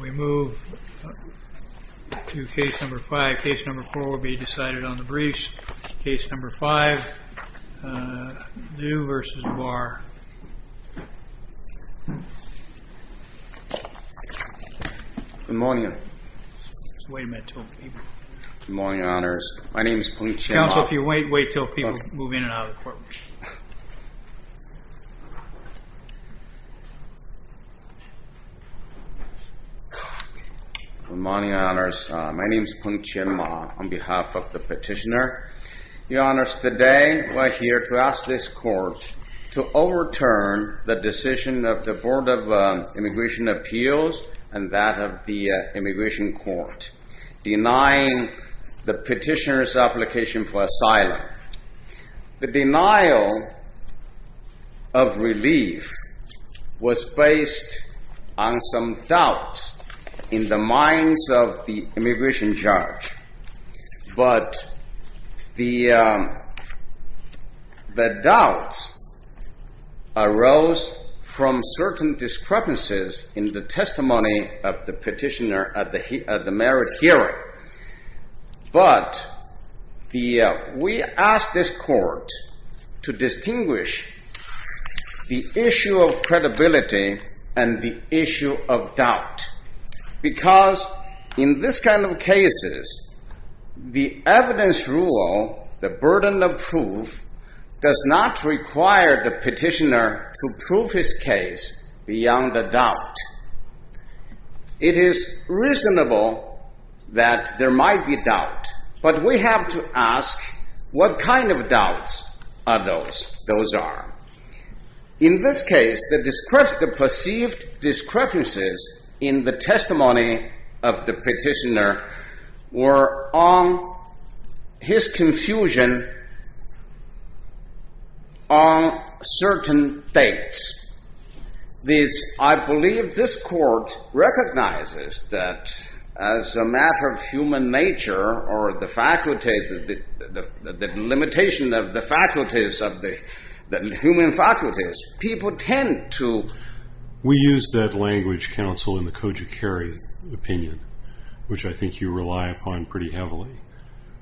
We move to case number five. Case number four will be decided on the briefs. Case number five, Liu v. Barr. Good morning. Just wait a minute until people. Good morning, your honors. My name is Police Chief. Counsel, if you wait, wait until people move in and out of the courtroom. Good morning, your honors. My name is Peng Chien Ma on behalf of the petitioner. Your honors, today we're here to ask this court to overturn the decision of the Board of Immigration Appeals and that of the Immigration Court, denying the petitioner's application for asylum. The denial of relief was based on some doubts in the minds of the immigration judge, but the doubt arose from certain discrepancies in the testimony of the merit hearing, but we ask this court to distinguish the issue of credibility and the issue of doubt because in this kind of cases, the evidence rule, the burden of proof does not require the petitioner to prove his case beyond the doubt. It is reasonable that there might be doubt, but we have to ask what kind of doubts those are. In this case, the perceived discrepancies in the testimony of the petitioner were on his confusion on certain dates. I believe this court recognizes that as a matter of human nature or the faculty, the limitation of the faculties of the human faculties, people tend to... We use that language, counsel, in the Koji Kerry opinion, which I think you rely upon pretty heavily,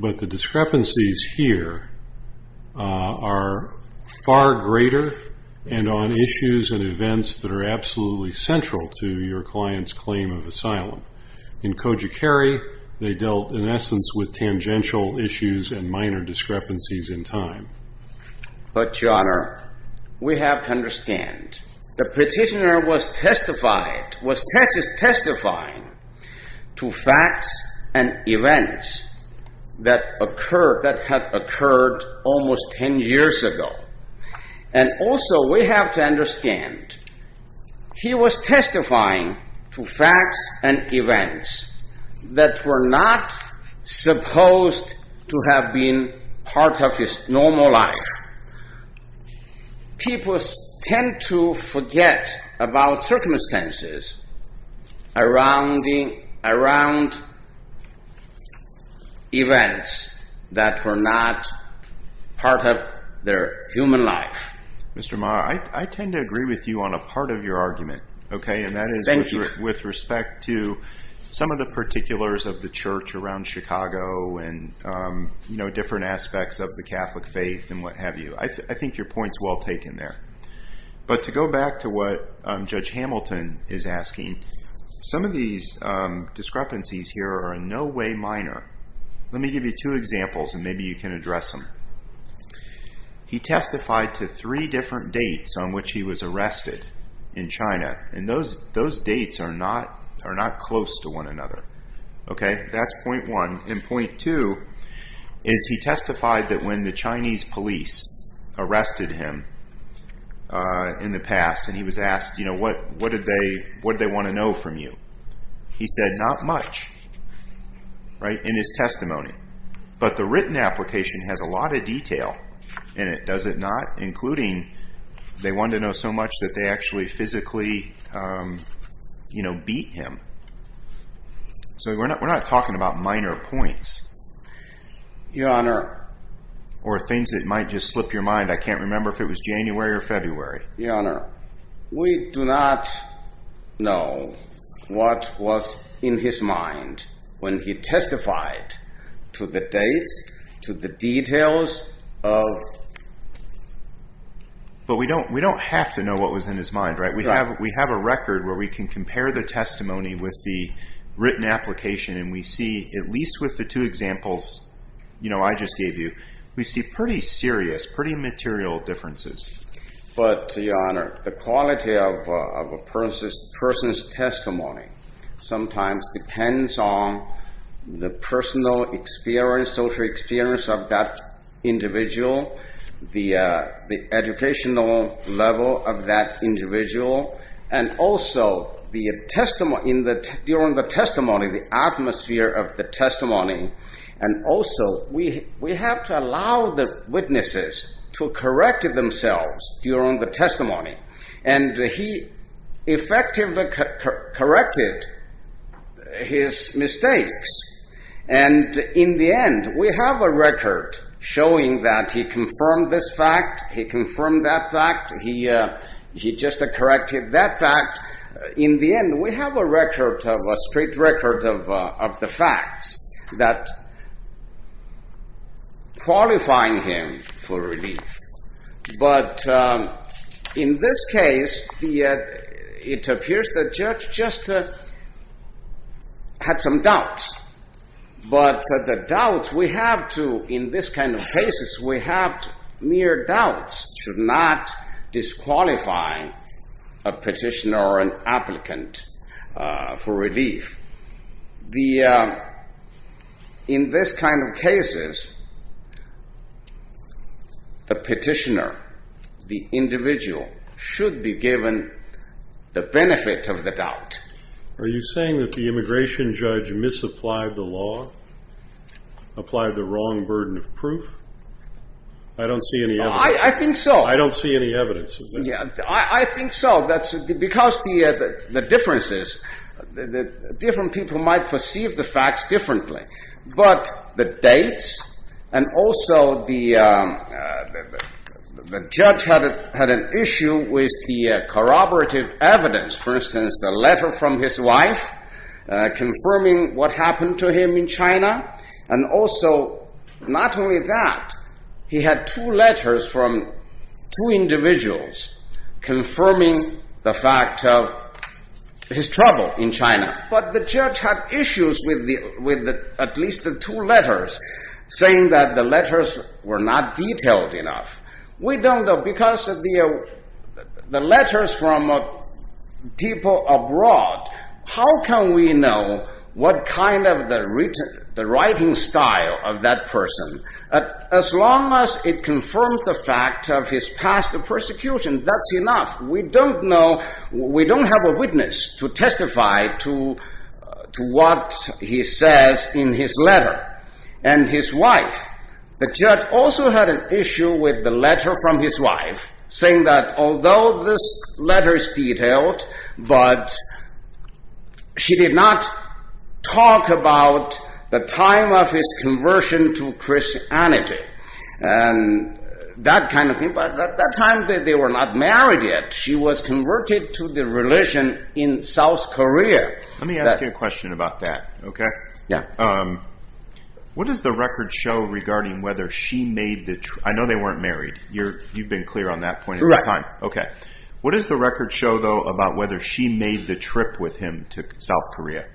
but the discrepancies here are far greater and on issues and events that are absolutely central to your client's claim of asylum. In Koji Kerry, they dealt in essence with tangential issues and minor discrepancies in time. But your honor, we have to understand the petitioner was testifying to facts and events that were not supposed to have been part of his normal life. People tend to forget about circumstances around events that were not part of their human life. Mr. Maher, I tend to agree with you on a part of your argument, and that is with respect to some of the particulars of the church around Chicago and different aspects of the Catholic faith and what have you. I think your point's well taken there. But to go back to what Judge Hamilton is asking, some of these discrepancies here are in no way minor. Let me give you two examples and maybe you can address them. First, he testified to three different dates on which he was arrested in China, and those dates are not close to one another. That's point one. And point two is he testified that when the Chinese police arrested him in the past and he was asked, what did they want to know from you? He said, not much in his testimony. But the written application has a lot of detail in it, does it not? Including, they wanted to know so much that they actually physically beat him. So we're not talking about minor points or things that might just slip your mind. I can't remember if it was January or February. Your Honor, we do not know what was in his mind when he testified to the dates, to the details of... But we don't have to know what was in his mind, right? We have a record where we can compare the testimony with the written application. And we see, at least with the two examples I just gave you, we see pretty serious, pretty material differences. But Your Honor, the quality of a person's testimony sometimes depends on the personal experience, social experience of that individual, the educational level of that individual, and also during the testimony, the atmosphere of the testimony. And also, we have to allow the witnesses to correct themselves during the testimony, and he effectively corrected his mistakes. And in the end, we have a record showing that he confirmed this fact, he confirmed that fact, he just corrected that fact, in the end, we have a record of a strict record of the facts that qualifying him for relief. But in this case, it appears the judge just had some doubts. But the doubts we have to, in this kind of cases, we have mere doubts, should not disqualify a petitioner or an applicant for relief. The, in this kind of cases, the petitioner, the individual, should be given the benefit of the doubt. Are you saying that the immigration judge misapplied the law? Applied the wrong burden of proof? I don't see any evidence. I think so. That's because the, the differences, the different people might perceive the facts differently, but the dates, and also the, the judge had, had an issue with the corroborative evidence, for instance, the letter from his wife, confirming what happened to him in China. And also, not only that, he had two letters from, from his wife, two individuals, confirming the fact of his trouble in China. But the judge had issues with the, with the, at least the two letters, saying that the letters were not detailed enough. We don't know, because of the, the letters from people abroad, how can we know what kind of the written, the writing style of that person, as long as it confirms the fact of his past persecution, that's enough. We don't know, we don't have a witness to testify to, to what he says in his letter. And his wife, the judge also had an issue with the letter from his wife, saying that although this letter is detailed, but she did not talk about the time of his conversion to Christianity. And that kind of thing. But at that time, they were not married yet. She was converted to the religion in South Korea. Let me ask you a question about that. Okay. Yeah. What does the record show regarding whether she made the trip? I know they weren't married. You're, you've been clear on that point in time. Okay. What does the record show though, about whether she made the trip with him to South Korea?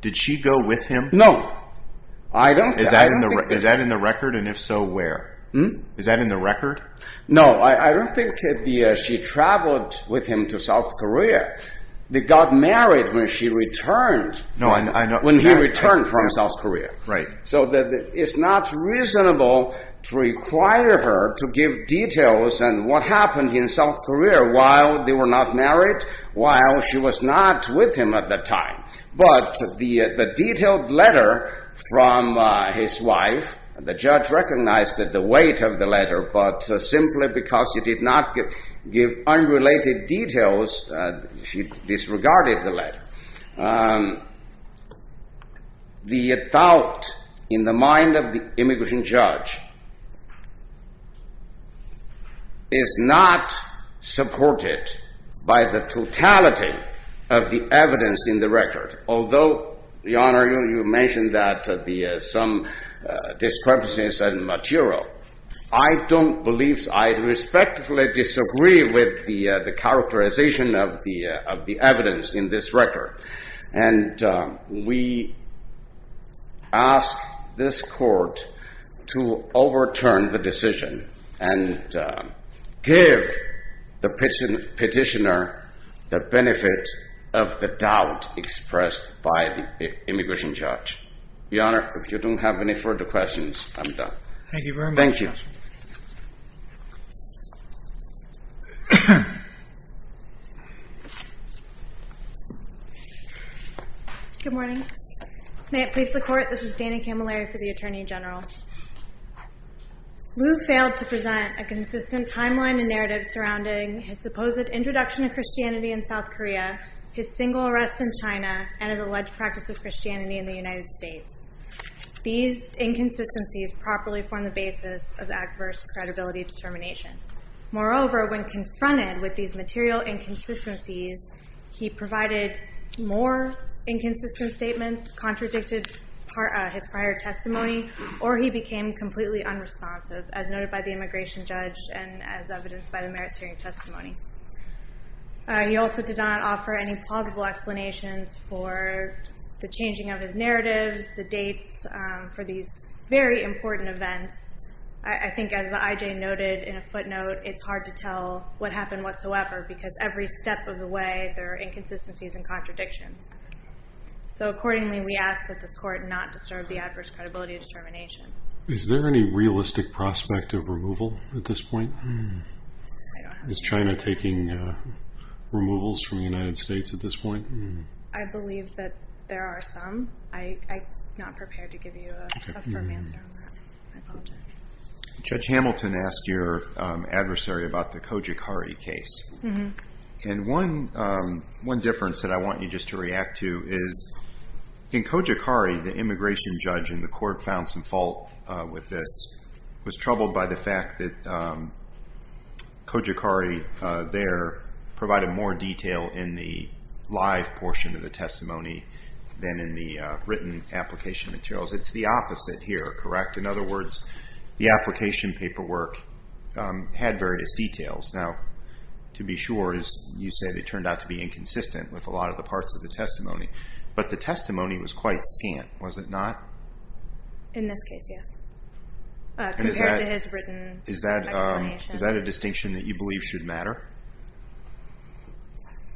Did she go with him? No. I don't, I don't think that. Is that in the record? And if so, where? Is that in the record? No, I don't think she traveled with him to South Korea. They got married when she returned, when he returned from South Korea. Right. So it's not reasonable to require her to give details on what happened in South Korea while they were not married, while she was not with him at that time. But the detailed letter from his wife, the judge recognized that the weight of the letter, but simply because she did not give unrelated details, she disregarded the letter, the doubt in the mind of the immigration judge is not supported by the totality of the evidence in the record. Although, Your Honor, you mentioned that the, some discrepancies and material, I don't believe, I respectfully disagree with the characterization of the, of the evidence in this record. And we ask this court to overturn the decision and give the petitioner the benefit of the doubt expressed by the immigration judge. Your Honor, if you don't have any further questions, I'm done. Thank you very much. Thank you. Good morning. May it please the court. This is Dana Camilleri for the Attorney General. Liu failed to present a consistent timeline and narrative surrounding his supposed introduction of Christianity in South Korea, his single arrest in China, and his alleged practice of Christianity in the United States. These inconsistencies properly form the basis of adverse credibility determination. Moreover, when confronted with these material inconsistencies, he provided more inconsistent statements, contradicted his prior testimony, or he became completely unresponsive as noted by the immigration judge and as evidenced by the merits hearing testimony. He also did not offer any plausible explanations for the changing of his narratives, the dates for these very important events. I think as the IJ noted in a footnote, it's hard to tell what happened whatsoever because every step of the way, there are inconsistencies and contradictions. So accordingly, we ask that this court not disturb the adverse credibility determination. Is there any realistic prospect of removal at this point? Is China taking removals from the United States at this point? I believe that there are some. I'm not prepared to give you a firm answer on that. I apologize. Judge Hamilton asked your adversary about the Kojikari case. And one difference that I want you just to react to is, in Kojikari, the immigration judge in the court found some fault with this, was troubled by the Kojikari there provided more detail in the live portion of the testimony than in the written application materials. It's the opposite here, correct? In other words, the application paperwork had various details. Now, to be sure, as you said, it turned out to be inconsistent with a lot of the parts of the testimony, but the testimony was quite scant, was it not? In this case, yes. Compared to his written explanation. Is that a distinction that you believe should matter?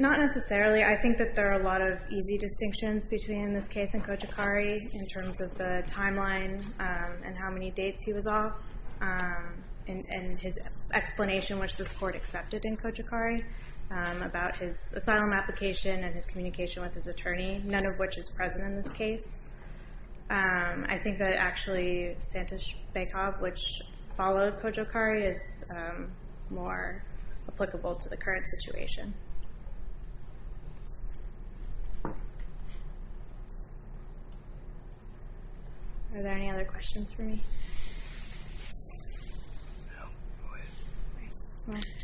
Not necessarily. I think that there are a lot of easy distinctions between this case and Kojikari in terms of the timeline and how many dates he was off and his explanation, which this court accepted in Kojikari, about his asylum application and his communication with his attorney, none of which is present in this case. I think that actually, Santosh Baikov, which followed Kojikari, is more applicable to the current situation. Are there any other questions for me?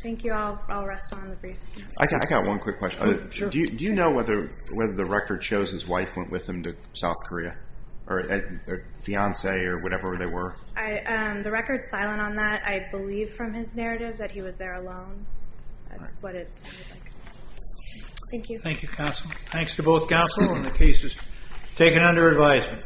Thank you all. I'll rest on the briefs. I got one quick question. Do you know whether the record shows his wife went with him to South Korea, or fiancee, or whatever they were? The record's silent on that. I believe from his narrative that he was there alone. That's what it... Thank you. Thank you, counsel. Thanks to both counsel and the cases taken under advisement.